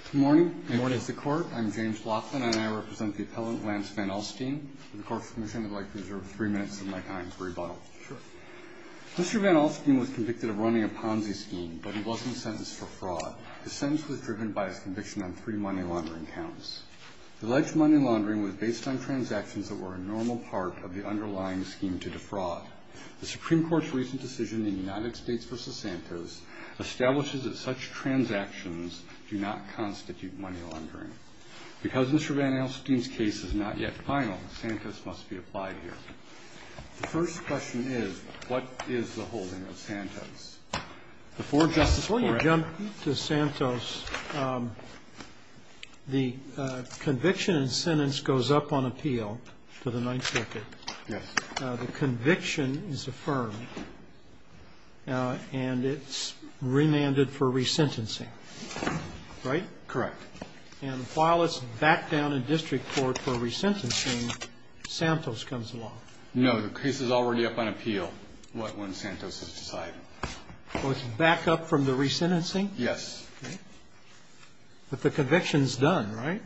Mr. Van Alstyne was convicted of running a Ponzi scheme, but he wasn't sentenced for fraud. His sentence was driven by his conviction on three money laundering counts. Alleged money laundering was based on transactions that were a normal part of the underlying scheme to defraud. The Supreme Court's recent decision in United States v. Santos establishes that such transactions do not constitute money laundering. Because Mr. Van Alstyne's case is not yet final, Santos must be applied here. The first question is, what is the holding of Santos? Before you jump to Santos, the conviction and sentence goes up on appeal to the 9th Circuit. The conviction is affirmed, and it's remanded for resentencing, right? Correct. And while it's backed down in district court for resentencing, Santos comes along. No, the case is already up on appeal when Santos is decided. Well, it's backed up from the resentencing? Yes. But the conviction's done, right?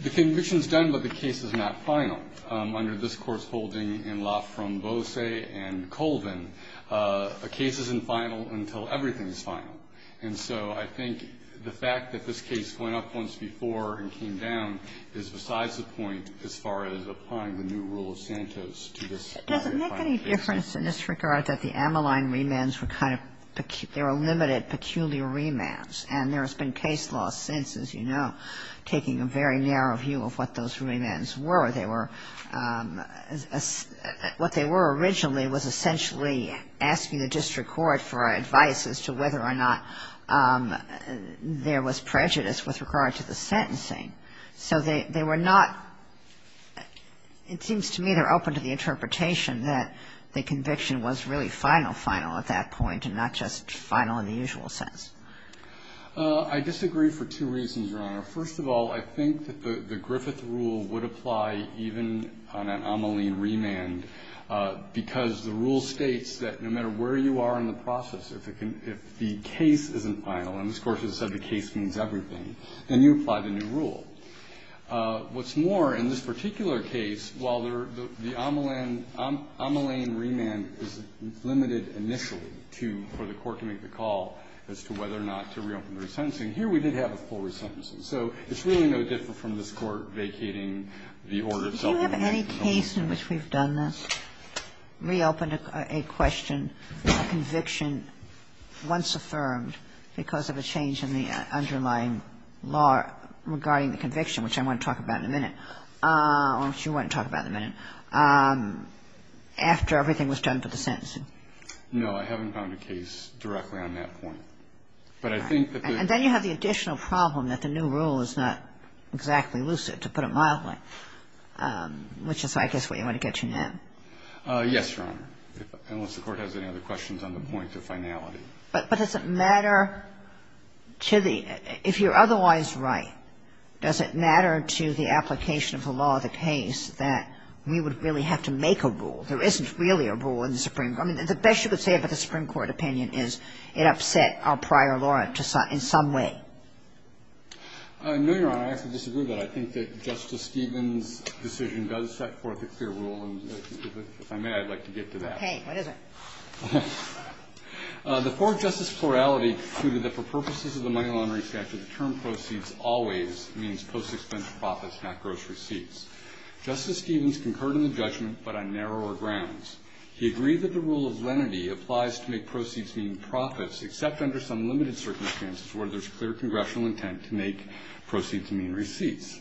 The conviction's done, but the case is not final. Under this Court's holding in Lafromboise and Colvin, a case isn't final until everything is final. And so I think the fact that this case went up once before and came down is besides the point as far as applying the new rule of Santos to this final case. Does it make any difference in this regard that the Ammaline remands were kind of pecu -- remands? And there has been case law since, as you know, taking a very narrow view of what those remands were. They were – what they were originally was essentially asking the district court for advice as to whether or not there was prejudice with regard to the sentencing. So they were not – it seems to me they're open to the interpretation that the conviction was really final, final at that point, and not just final in the usual sense. I disagree for two reasons, Your Honor. First of all, I think that the Griffith rule would apply even on an Ammaline remand because the rule states that no matter where you are in the process, if it can – if the case isn't final, and this Court has said the case means everything, then you apply the new rule. What's more, in this particular case, while the Ammaline remand is limited initially to – for the court to make the call as to whether or not to reopen the resentencing, here we did have a full resentencing. So it's really no different from this Court vacating the order itself. Do you have any case in which we've done this, reopened a question, a conviction once affirmed because of a change in the underlying law regarding the conviction, which I want to talk about in a minute, or which you want to talk about in a minute, after everything was done for the sentencing? No, I haven't found a case directly on that point. But I think that the – And then you have the additional problem that the new rule is not exactly lucid, to put it mildly, which is, I guess, what you want to get to now. Yes, Your Honor, unless the Court has any other questions on the point of finality. But does it matter to the – if you're otherwise right, does it matter to the application of the law of the case that we would really have to make a rule? There isn't really a rule in the Supreme – I mean, the best you could say about the Supreme Court opinion is it upset our prior law in some way. No, Your Honor, I actually disagree with that. I think that Justice Stevens' decision does set forth a clear rule, and if I may, I'd like to get to that. Okay. What is it? The fourth justice plurality concluded that for purposes of the money laundering statute, the term proceeds always means post-expense profits, not gross receipts. Justice Stevens concurred in the judgment, but on narrower grounds. He agreed that the rule of lenity applies to make proceeds mean profits, except under some limited circumstances where there's clear congressional intent to make proceeds mean receipts.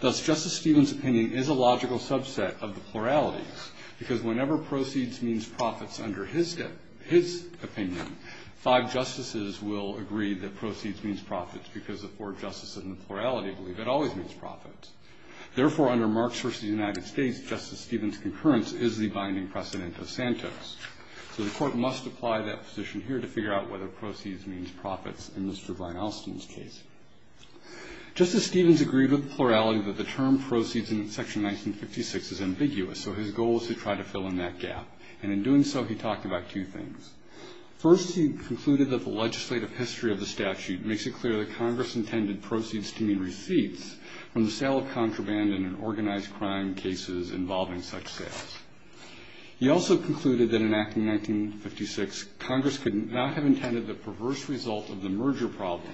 Thus, Justice Stevens' opinion is a logical subset of the pluralities, because whenever proceeds means profits under his – his opinion, five justices will agree that proceeds means profits because the four justices in the plurality believe it always means profits. Therefore, under Marx versus the United States, Justice Stevens' concurrence is the binding precedent of Santos. So the court must apply that position here to figure out whether proceeds means profits in Mr. Weinolstein's case. Justice Stevens agreed with the plurality that the term proceeds in section 1956 is ambiguous, so his goal was to try to fill in that gap. And in doing so, he talked about two things. First, he concluded that the legislative history of the statute makes it clear that Congress intended proceeds to mean receipts from the sale of contraband in an organized crime cases involving such sales. He also concluded that in Act of 1956, Congress could not have intended the perverse result of the merger problem,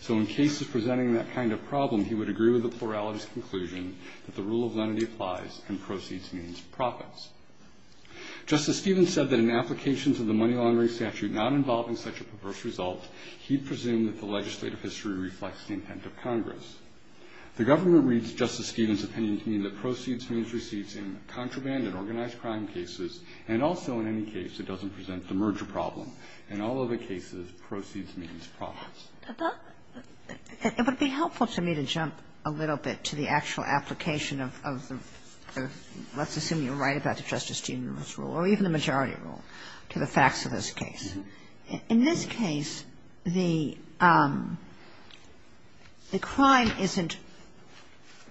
so in cases presenting that kind of problem, he would agree with the plurality's conclusion that the rule of lenity applies and proceeds means profits. Justice Stevens said that in applications of the money laundering statute not involving such a perverse result, he presumed that the legislative history reflects the intent of Congress. The government reads Justice Stevens' opinion to mean that proceeds means receipts in contraband and organized crime cases, and also in any case that doesn't present the merger problem. In all other cases, proceeds means profits. It would be helpful to me to jump a little bit to the actual application of the rule of lenity, or let's assume you're right about the Justice Stevens' rule, or even the majority rule, to the facts of this case. In this case, the crime isn't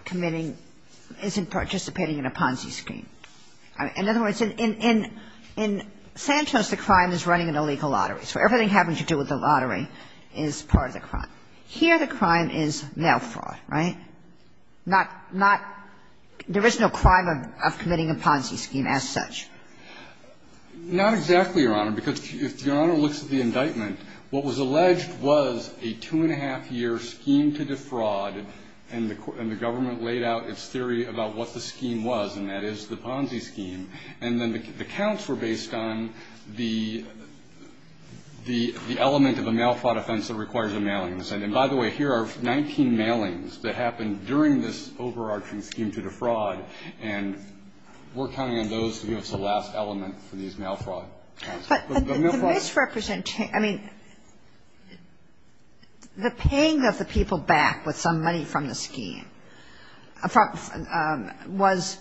committing – isn't participating in a Ponzi scheme. In other words, in Santos, the crime is running an illegal lottery, so everything having to do with the lottery is part of the crime. Here, the crime is mail fraud, right? Not – there is no crime of committing a Ponzi scheme as such. Not exactly, Your Honor, because if Your Honor looks at the indictment, what was alleged was a two-and-a-half-year scheme to defraud, and the government laid out its theory about what the scheme was, and that is the Ponzi scheme, and then the counts were based on the element of a mail fraud offense that requires a mailing incentive. And by the way, here are 19 mailings that happened during this overarching scheme to defraud, and we're counting on those to be the last element for these mail fraud counts. But the mail fraud – But the misrepresentation – I mean, the paying of the people back with some money from the scheme was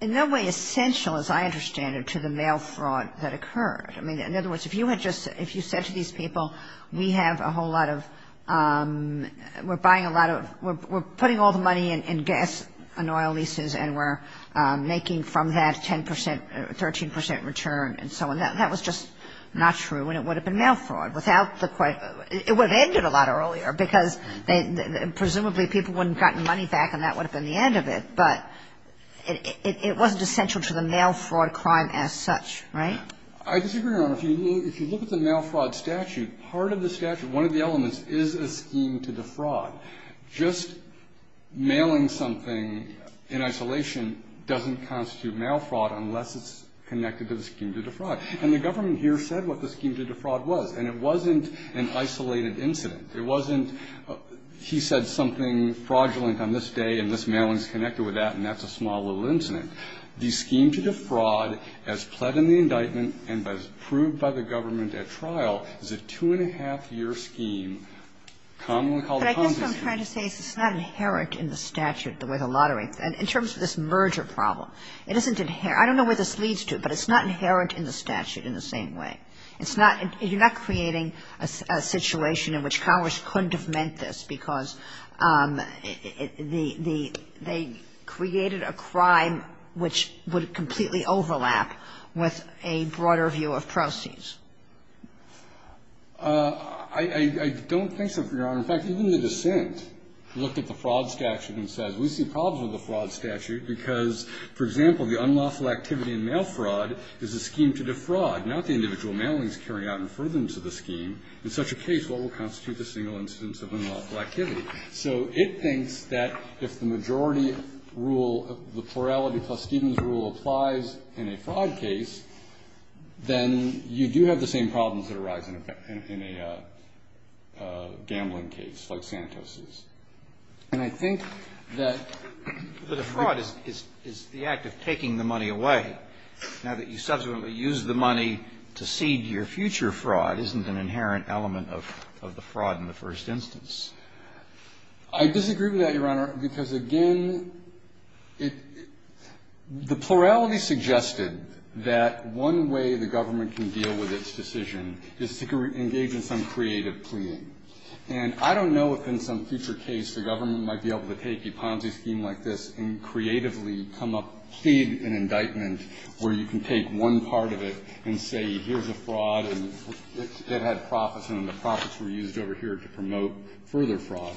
in no way essential, as I understand it, to the mail fraud that occurred. I mean, in other words, if you had just – if you said to these people, we have a whole lot of – we're buying a lot of – we're putting all the money in gas and oil leases, and we're making from that 10 percent, 13 percent return, and so on, that was just not true, and it would have been mail fraud without the – it would have ended a lot earlier, because presumably people wouldn't have gotten money back, and that would have been the end of it. But it wasn't essential to the mail fraud crime as such, right? I disagree, Your Honor. If you look at the mail fraud statute, part of the statute, one of the elements, is a scheme to defraud. Just mailing something in isolation doesn't constitute mail fraud unless it's connected to the scheme to defraud. And the government here said what the scheme to defraud was, and it wasn't an isolated incident. It wasn't he said something fraudulent on this day, and this mailing is connected with that, and that's a small little incident. The scheme to defraud, as pled in the indictment and as proved by the government at trial, is a two-and-a-half-year scheme, commonly called a concession. But I guess what I'm trying to say is it's not inherent in the statute, the way the lottery – in terms of this merger problem, it isn't – I don't know where this leads to, but it's not inherent in the statute in the same way. It's not – you're not creating a situation in which Congress couldn't have meant this, because the – they created a crime which would completely overlap with a broader view of proceeds. I don't think so, Your Honor. In fact, even the dissent looked at the fraud statute and says, we see problems with the fraud statute because, for example, the unlawful activity in mail fraud is a scheme to defraud, not the individual mailings carried out in furtherance of the scheme. In such a case, what will constitute the single instance of unlawful activity? So it thinks that if the majority rule, the plurality plus Stevens rule applies in a fraud case, then you do have the same problems that arise in a – in a gambling case like Santos's. And I think that a fraud is the act of taking the money away. Now that you subsequently use the money to seed your future fraud isn't an inherent element of the fraud in the first instance. I disagree with that, Your Honor, because, again, it – the plurality suggested that one way the government can deal with its decision is to engage in some creative pleading. And I don't know if in some future case the government might be able to take a Ponzi scheme like this and creatively come up, plead an indictment where you can take one part of it and say here's a fraud and it had profits and the profits were used over here to promote further fraud.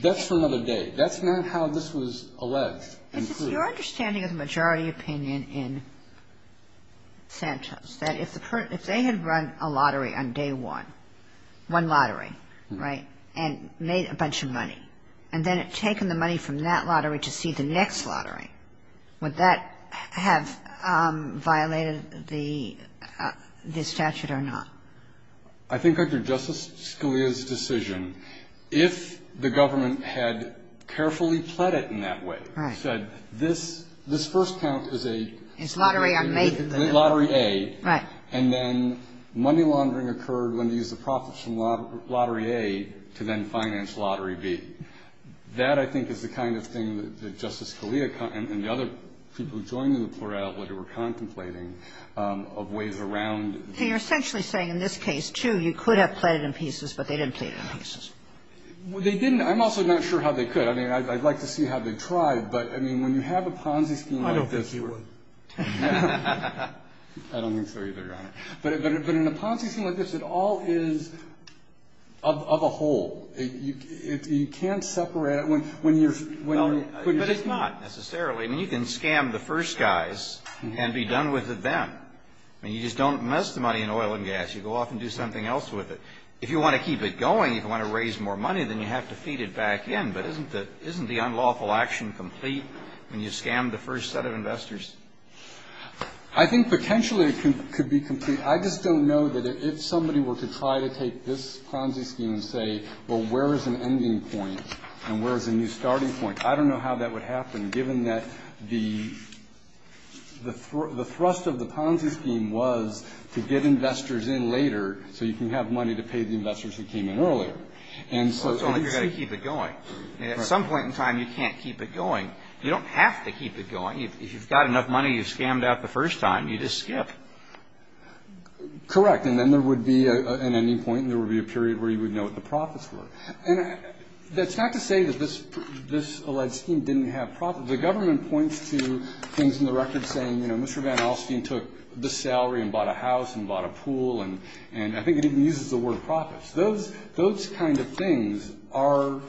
That's for another day. That's not how this was alleged and proved. But it's your understanding of the majority opinion in Santos that if the – if they had run a lottery on day one, one lottery, right, and made a bunch of money and then had taken the money from that lottery to see the next lottery, would that have violated the statute or not? I think, under Justice Scalia's decision, if the government had carefully pled it in that way, said this – this first count is a – It's lottery on day one. Lottery A. Right. And then money laundering occurred when they used the profits from Lottery A to then finance Lottery B. That, I think, is the kind of thing that Justice Scalia and the other people who joined in the plurality were contemplating of ways around – So you're essentially saying in this case, too, you could have pled it in pieces, but they didn't plead it in pieces. Well, they didn't – I'm also not sure how they could. I mean, I'd like to see how they tried. But, I mean, when you have a Ponzi scheme like this – I don't think you would. I don't think so either, Your Honor. But in a Ponzi scheme like this, it all is of a whole. You can't separate it when you're – But it's not, necessarily. I mean, you can scam the first guys and be done with them. I mean, you just don't invest the money in oil and gas. You go off and do something else with it. If you want to keep it going, if you want to raise more money, then you have to feed it back in. But isn't the unlawful action complete when you scam the first set of investors? I think potentially it could be complete. I just don't know that if somebody were to try to take this Ponzi scheme and say, well, where is an ending point and where is a new starting point? I don't know how that would happen, given that the thrust of the Ponzi scheme was to get investors in later so you can have money to pay the investors who came in earlier. Well, it's only if you're going to keep it going. At some point in time, you can't keep it going. You don't have to keep it going. If you've got enough money, you've scammed out the first time. You just skip. Correct. And then there would be an ending point and there would be a period where you would know what the profits were. And that's not to say that this alleged scheme didn't have profits. The government points to things in the record saying, you know, Mr. Van Alstyne took this salary and bought a house and bought a pool. And I think it even uses the word profits. Those kind of things are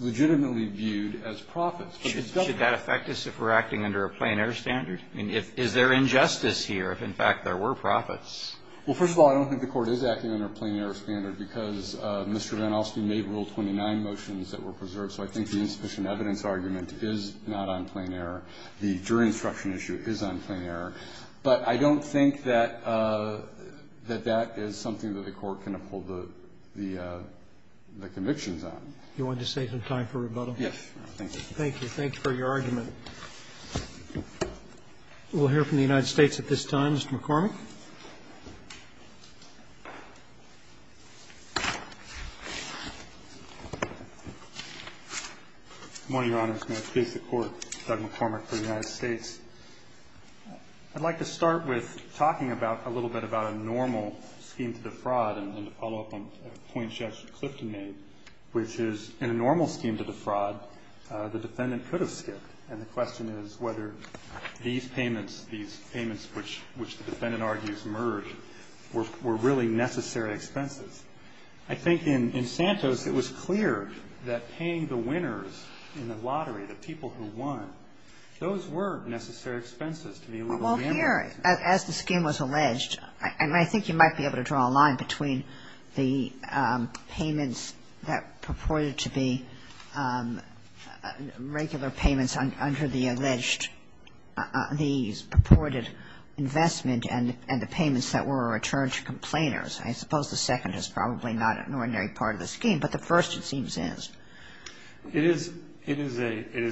legitimately viewed as profits. Should that affect us if we're acting under a plein air standard? Is there injustice here if, in fact, there were profits? Well, first of all, I don't think the Court is acting under a plein air standard because Mr. Van Alstyne made Rule 29 motions that were preserved. So I think the insufficient evidence argument is not on plein air. The jury instruction issue is on plein air. But I don't think that that is something that the Court can uphold the convictions on. Do you want to save some time for rebuttal? Yes. Thank you. Thank you. Thank you for your argument. We'll hear from the United States at this time. Mr. McCormick. Good morning, Your Honor. It's my pleasure to court. Doug McCormick for the United States. I'd like to start with talking a little bit about a normal scheme to defraud and to follow up on a point Justice Clifton made, which is in a normal scheme to defraud, the defendant could have skipped. And the question is whether these payments, these payments which the defendant argues merged, were really necessary expenses. I think in Santos, it was clear that paying the winners in the lottery, the people who won, those were necessary expenses to be able to reimburse. Well, here, as the scheme was alleged, and I think you might be able to draw a line between the payments that purported to be regular payments under the alleged these purported investment and the payments that were returned to complainers. I suppose the second is probably not an ordinary part of the scheme, but the first, it seems, is. It is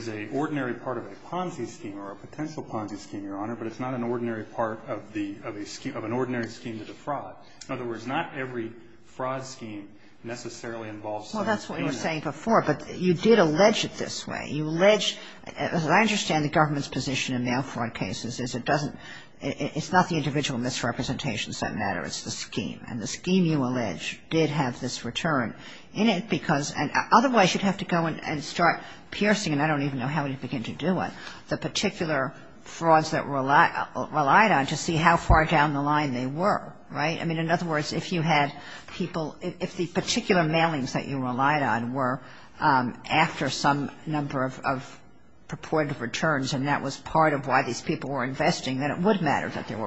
a ordinary part of a Ponzi scheme or a potential Ponzi scheme, Your Honor, but it's not an ordinary part of an ordinary scheme to defraud. In other words, not every fraud scheme necessarily involves. Well, that's what you were saying before, but you did allege it this way. You allege, as I understand the government's position in mail fraud cases, is it doesn't, it's not the individual misrepresentations that matter, it's the scheme. And the scheme you allege did have this return in it because, and otherwise you'd have to go and start piercing, and I don't even know how you begin to do it, the particular frauds that were relied on to see how far down the line they were. Right? I mean, in other words, if you had people, if the particular mailings that you relied on were after some number of purported returns and that was part of why these people were investing, then it would matter that there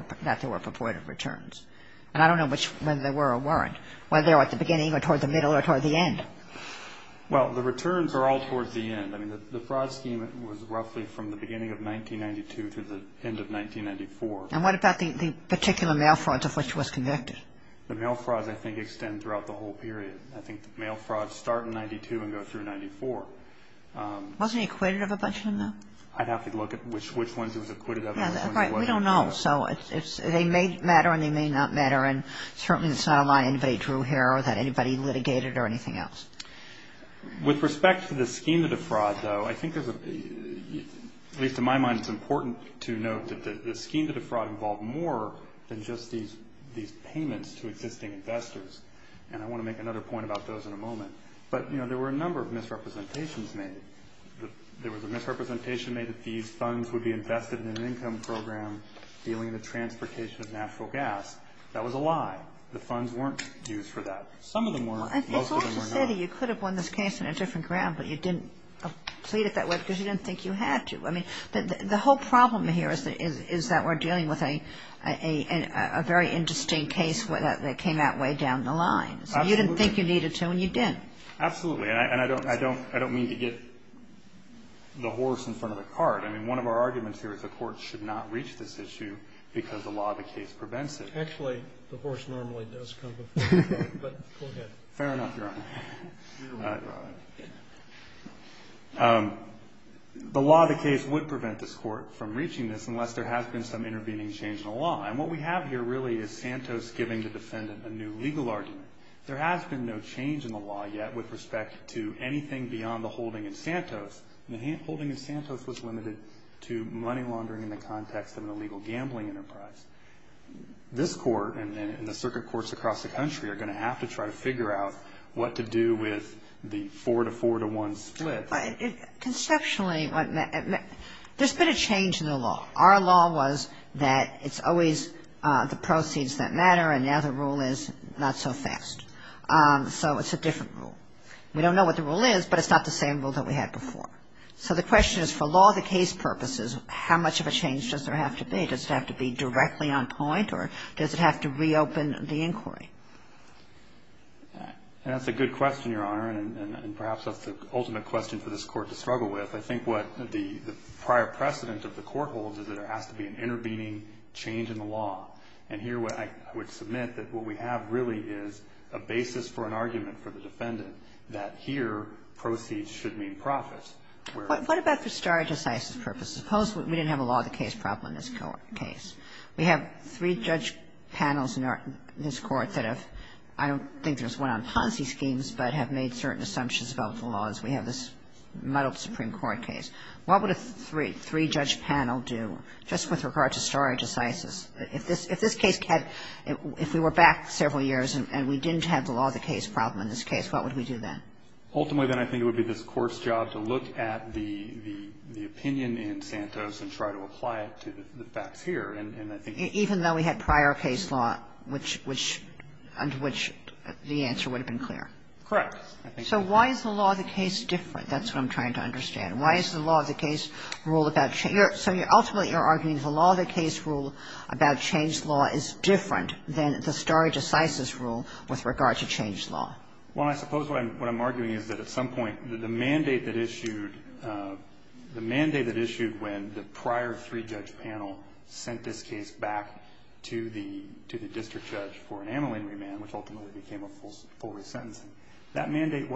were purported returns. And I don't know whether they were or weren't, whether they were at the beginning or toward the middle or toward the end. Well, the returns are all toward the end. I mean, the fraud scheme was roughly from the beginning of 1992 to the end of 1994. And what about the particular mail frauds of which was convicted? The mail frauds, I think, extend throughout the whole period. I think the mail frauds start in 1992 and go through 1994. Wasn't he acquitted of a bunch of them, though? I'd have to look at which ones he was acquitted of and which ones he wasn't. Right. We don't know. So they may matter and they may not matter, and certainly it's not a lie anybody drew here or that anybody litigated or anything else. With respect to the scheme of the fraud, though, I think there's a, at least in my mind, it's important to note that the scheme of the fraud involved more than just these payments to existing investors. And I want to make another point about those in a moment. But, you know, there were a number of misrepresentations made. There was a misrepresentation made that these funds would be invested in an income program dealing with the transportation of natural gas. That was a lie. The funds weren't used for that. Some of them were. Most of them were not. It's also said that you could have won this case in a different ground, but you didn't plead it that way because you didn't think you had to. I mean, the whole problem here is that we're dealing with a very interesting case that came that way down the line. So you didn't think you needed to and you didn't. Absolutely. And I don't mean to get the horse in front of the cart. I mean, one of our arguments here is the Court should not reach this issue because the law of the case prevents it. Actually, the horse normally does come before the cart, but go ahead. Fair enough, Your Honor. The law of the case would prevent this Court from reaching this unless there has been some intervening change in the law. And what we have here, really, is Santos giving the defendant a new legal argument. There has been no change in the law yet with respect to anything beyond the holding in Santos. The holding in Santos was limited to money laundering in the context of an illegal gambling enterprise. This Court and the circuit courts across the country are going to have to try to figure out what to do with the 4-4-1 split. Conceptually, there's been a change in the law. Our law was that it's always the proceeds that matter and now the rule is not so fast. So it's a different rule. We don't know what the rule is, but it's not the same rule that we had before. So the question is, for law of the case purposes, how much of a change does there have to be? Does it have to be directly on point or does it have to reopen the inquiry? And that's a good question, Your Honor, and perhaps that's the ultimate question for this Court to struggle with. I think what the prior precedent of the Court holds is that there has to be an intervening change in the law. And here I would submit that what we have, really, is a basis for an argument for the defendant that here proceeds should mean profits. What about for stare decisis purposes? Suppose we didn't have a law of the case problem in this case. We have three judge panels in this Court that have, I don't think there's one on Ponzi schemes, but have made certain assumptions about the law as we have this muddled Supreme Court case. What would a three-judge panel do just with regard to stare decisis? If this case had, if we were back several years and we didn't have the law of the case problem in this case, what would we do then? Ultimately, then I think it would be this Court's job to look at the opinion in Santos and try to apply it to the facts here. And I think... Even though we had prior case law which the answer would have been clear. Correct. So why is the law of the case different? That's what I'm trying to understand. Why is the law of the case rule about... So ultimately you're arguing the law of the case rule about changed law is different than the stare decisis rule with regard to changed law. Well, I suppose what I'm arguing is that at some point the mandate that issued, the mandate that issued when the prior three-judge panel sent this case back to the district judge for an amyling remand, which ultimately became a full re-sentencing, that mandate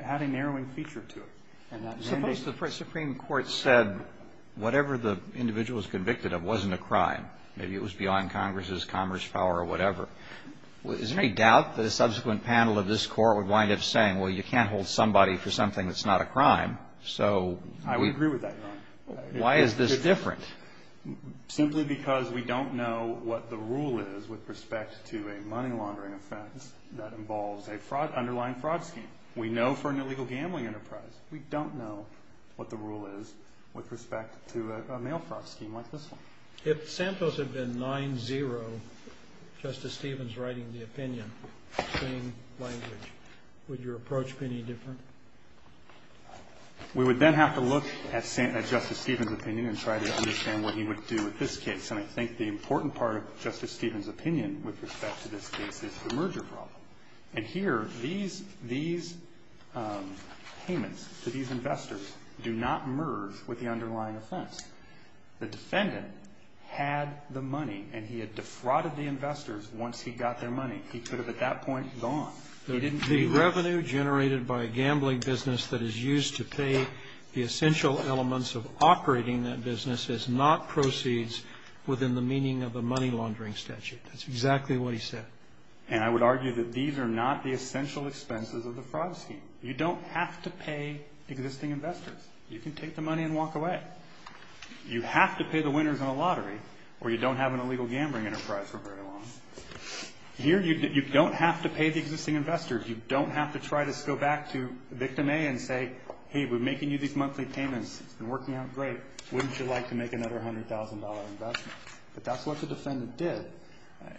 had a narrowing feature to it. Suppose the Supreme Court said whatever the individual was convicted of wasn't a crime. Maybe it was beyond Congress's Congress power or whatever. Is there any doubt that a subsequent panel of this Court would wind up saying, well, you can't hold somebody for something that's not a crime, so... I would agree with that. Why is this different? Simply because we don't know what the rule is with respect to a money laundering offense that involves an underlying fraud scheme. We know for an illegal gambling enterprise. We don't know what the rule is with respect to a mail fraud scheme like this one. If Santos had been 9-0, Justice Stevens writing the opinion, same language, would your approach be any different? We would then have to look at Justice Stevens' opinion and try to understand what he would do with this case. And I think the important part of Justice Stevens' opinion with respect to this case is the merger problem. And here, these payments to these investors do not merge with the underlying offense. The defendant had the money and he had defrauded the investors once he got their money. He could have at that point gone. The revenue generated by a gambling business that is used to pay the essential elements of operating that business is not proceeds within the meaning of the money laundering statute. That's exactly what he said. And I would argue that these are not the essential expenses of the fraud scheme. You don't have to pay existing investors. You can take the money and walk away. You have to pay the winners in a lottery or you don't have an illegal gambling enterprise for very long. Here, you don't have to pay the existing investors. You don't have to try to go back to victim A and say, hey, we're making you these monthly payments. It's been working out great. Wouldn't you like to make another $100,000 investment? But that's what the defendant did.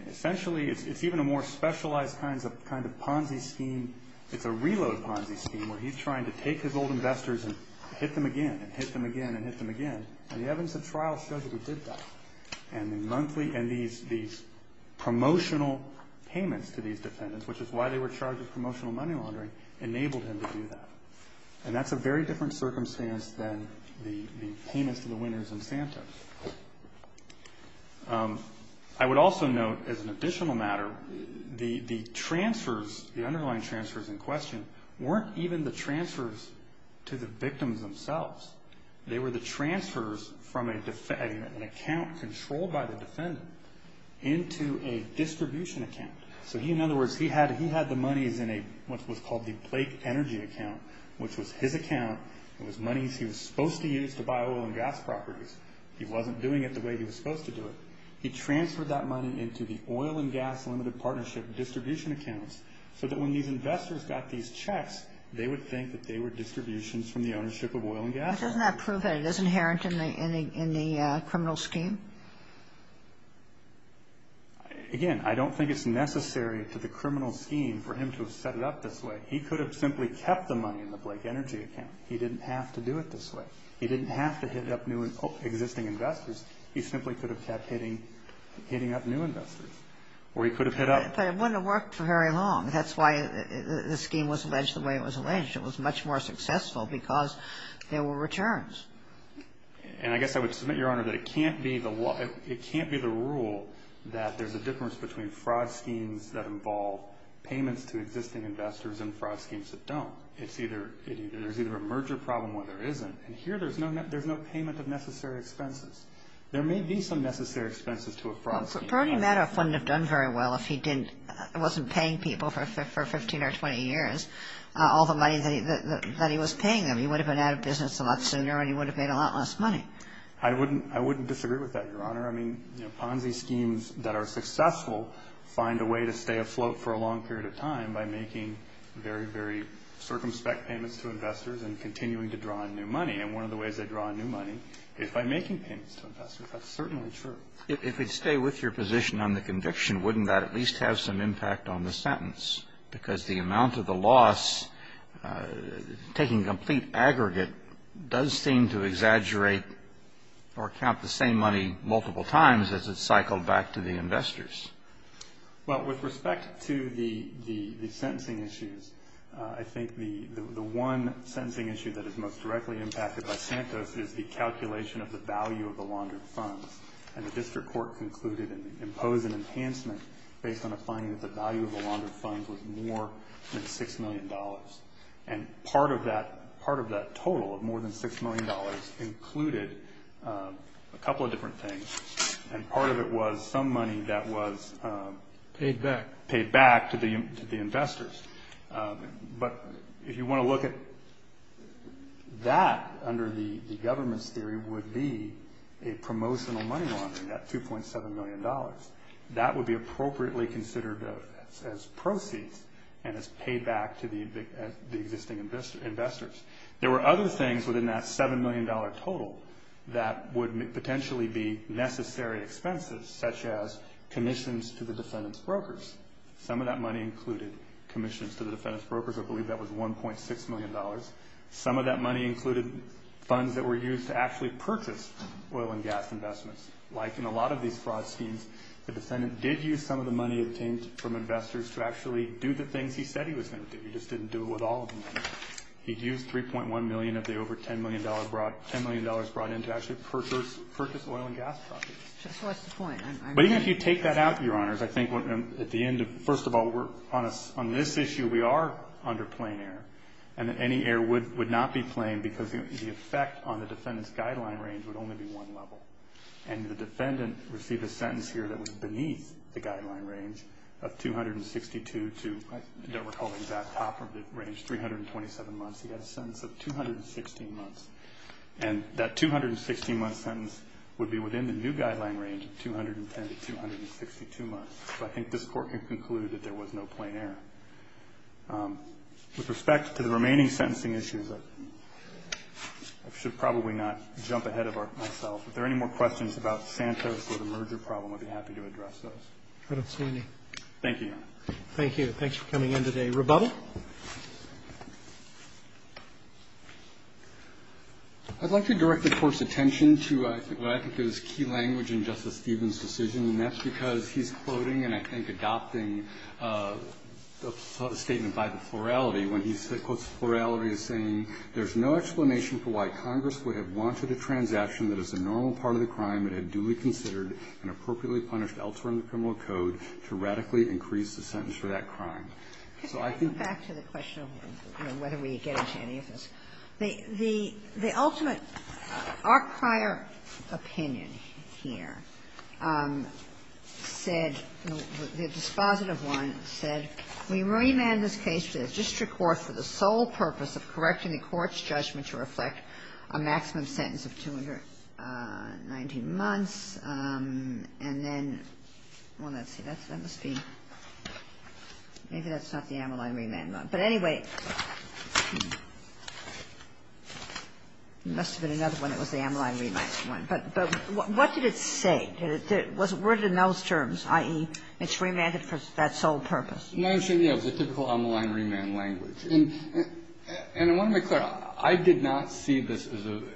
Essentially, it's even a more specialized kind of Ponzi scheme. It's a reload Ponzi scheme where he's trying to take his old investors and hit them again and hit them again and hit them again. And the evidence of trial shows that he did that. And these promotional payments to these defendants, which is why they were charged with promotional money laundering, enabled him to do that. And that's a very different circumstance than the payments to the winners in Santa. I would also note, as an additional matter, the transfers, the underlying transfers in question, weren't even the transfers to the victims themselves. They were the transfers from an account controlled by the defendant into a distribution account. So he, in other words, he had the monies in what was called the Blake Energy account, which was his account. It was monies he was supposed to use to buy oil and gas properties. He wasn't doing it the way he was supposed to do it. He transferred that money into the oil and gas limited partnership distribution accounts so that when these investors got these checks, they would think that they were distributions from the ownership of oil and gas. But doesn't that prove that it is inherent in the criminal scheme? Again, I don't think it's necessary to the criminal scheme for him to have set it up this way. He could have simply kept the money in the Blake Energy account. He didn't have to do it this way. He didn't have to hit up existing investors. He simply could have kept hitting up new investors. Or he could have hit up... But it wouldn't have worked for very long. That's why the scheme was alleged the way it was alleged. It was much more successful because there were returns. And I guess I would submit, Your Honor, that it can't be the rule that there's a difference between fraud schemes that involve payments to existing investors and fraud schemes that don't. It's either... There's either a merger problem or there isn't. And here, there's no payment of necessary expenses. There may be some necessary expenses to a fraud scheme. Bernie Madoff wouldn't have done very well if he didn't... wasn't paying people for 15 or 20 years all the money that he was paying them. He would have been out of business a lot sooner and he would have made a lot less money. I wouldn't disagree with that, Your Honor. I mean, Ponzi schemes that are successful find a way to stay afloat for a long period of time by making very, very circumspect payments to investors and continuing to draw in new money. And one of the ways they draw in new money is by making payments to investors. That's certainly true. If we'd stay with your position on the conviction, wouldn't that at least have some impact on the sentence? Because the amount of the loss taking complete aggregate does seem to exaggerate or count the same money multiple times as it's cycled back to the investors. Well, with respect to the sentencing issues, I think the one sentencing issue that is most directly impacted by Santos is the calculation of the value of the laundered funds. And the district court concluded and imposed an enhancement based on a finding that the value of the laundered funds was more than $6 million. of more than $6 million included a couple of different things. And part of it was some money that was paid back to the investors. But if you want to look at that under the government's theory would be a promotional money laundering at $2.7 million. That would be appropriately considered as proceeds and as payback to the existing investors. There were other things within that $7 million total that would potentially be necessary expenses such as commissions to the defendant's brokers. Some of that money included commissions to the defendant's brokers. I believe that was $1.6 million. Some of that money included funds that were used to actually purchase oil and gas investments. Like in a lot of these fraud schemes, the defendant did use some of the money obtained from investors to actually do the things he said he was going to do. He just didn't do it with all of the money. He used $3.1 million of the over $10 million brought in to actually purchase oil and gas projects. So what's the point? But even if you take that out, Your Honors, I think at the end, first of all, on this issue we are under plain error. And any error would not be plain because the effect on the defendant's guideline range would only be one level. And the defendant received a sentence here that was beneath the guideline range of $262 to, I don't recall the exact top of the range, $327 months. He had a sentence of $216 months. And that $216 months sentence would be within the new guideline range of $210 to $262 months. So I think this Court can conclude that there was no plain error. With respect to the remaining sentencing issues, I should probably not jump ahead of myself. If there are any more questions about Santos or the merger problem, I'd be happy to address those. I don't see any. Thank you, Your Honor. Thank you. Thanks for coming in today. Rebuttal? I'd like to direct the Court's attention to what I think is key language in Justice Stevens' decision. And that's because he's quoting and, I think, adopting the statement by the plurality when he quotes the plurality as saying, there's no explanation for why Congress would have wanted a transaction that is a normal part of the crime and had duly considered and appropriately punished elsewhere in the criminal code to radically increase the sentence for that crime. So I think the ultimate our prior opinion here is that the dispositive one said, we remand this case to the district court for the sole purpose of correcting the court's judgment to reflect a maximum sentence of 219 months and then well, let's see, that must be maybe that's not the amyloid remand one. But anyway, there must have been another one that was the amyloid remand one. But what did it say? It was worded in those terms, i.e., it's remanded for that sole purpose. It was a typical amyloid remand language. And I want to make clear, I did not see this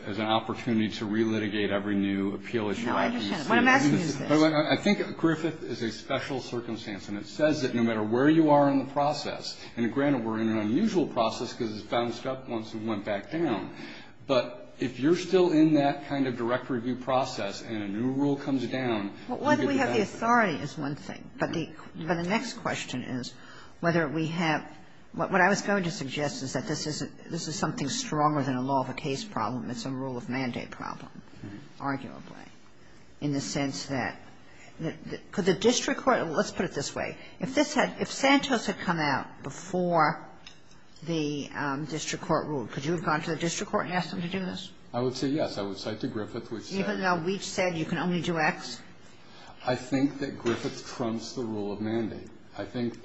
as an opportunity to relitigate every new appeal issue. I think Griffith is a special circumstance and it says that no matter where you are in the process and granted we're in an unusual process because it bounced up once it went back down. But if you're still in that kind of direct review process and a new rule comes down, you can do that. But whether we have the authority is one thing. But the next question is whether we have what I was going to suggest is that this is something stronger than a law of a case problem. It's a rule of mandate problem, arguably, in the sense that, could the district court, let's put it this way, if Santos had come out before the district court ruled, could you have gone to the district court and asked them to do this? I would say yes. I would cite to Griffith which said Even though we said you can only do X? I think that Griffith trumps the rule of mandate. He deserves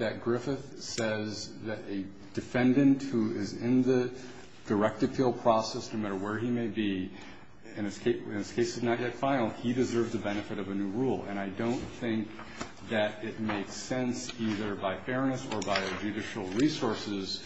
the benefit of a new rule. And I don't think that it makes sense either by fairness or by a judicial resources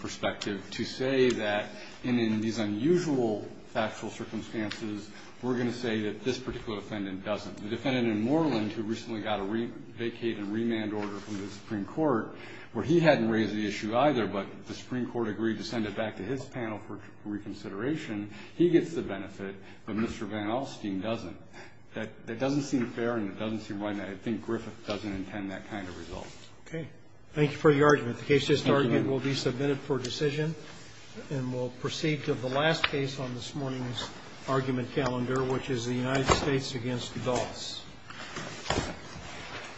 perspective to say that in these unusual factual circumstances we're going to say that this particular defendant doesn't. The defendant in Moreland who recently got a vacated remand order from the Supreme Court where he hadn't raised the issue either but the Supreme Court agreed to send it back to his panel for reconsideration he gets the benefit but Mr. Van Alstyne doesn't. That doesn't seem fair and doesn't seem right to me.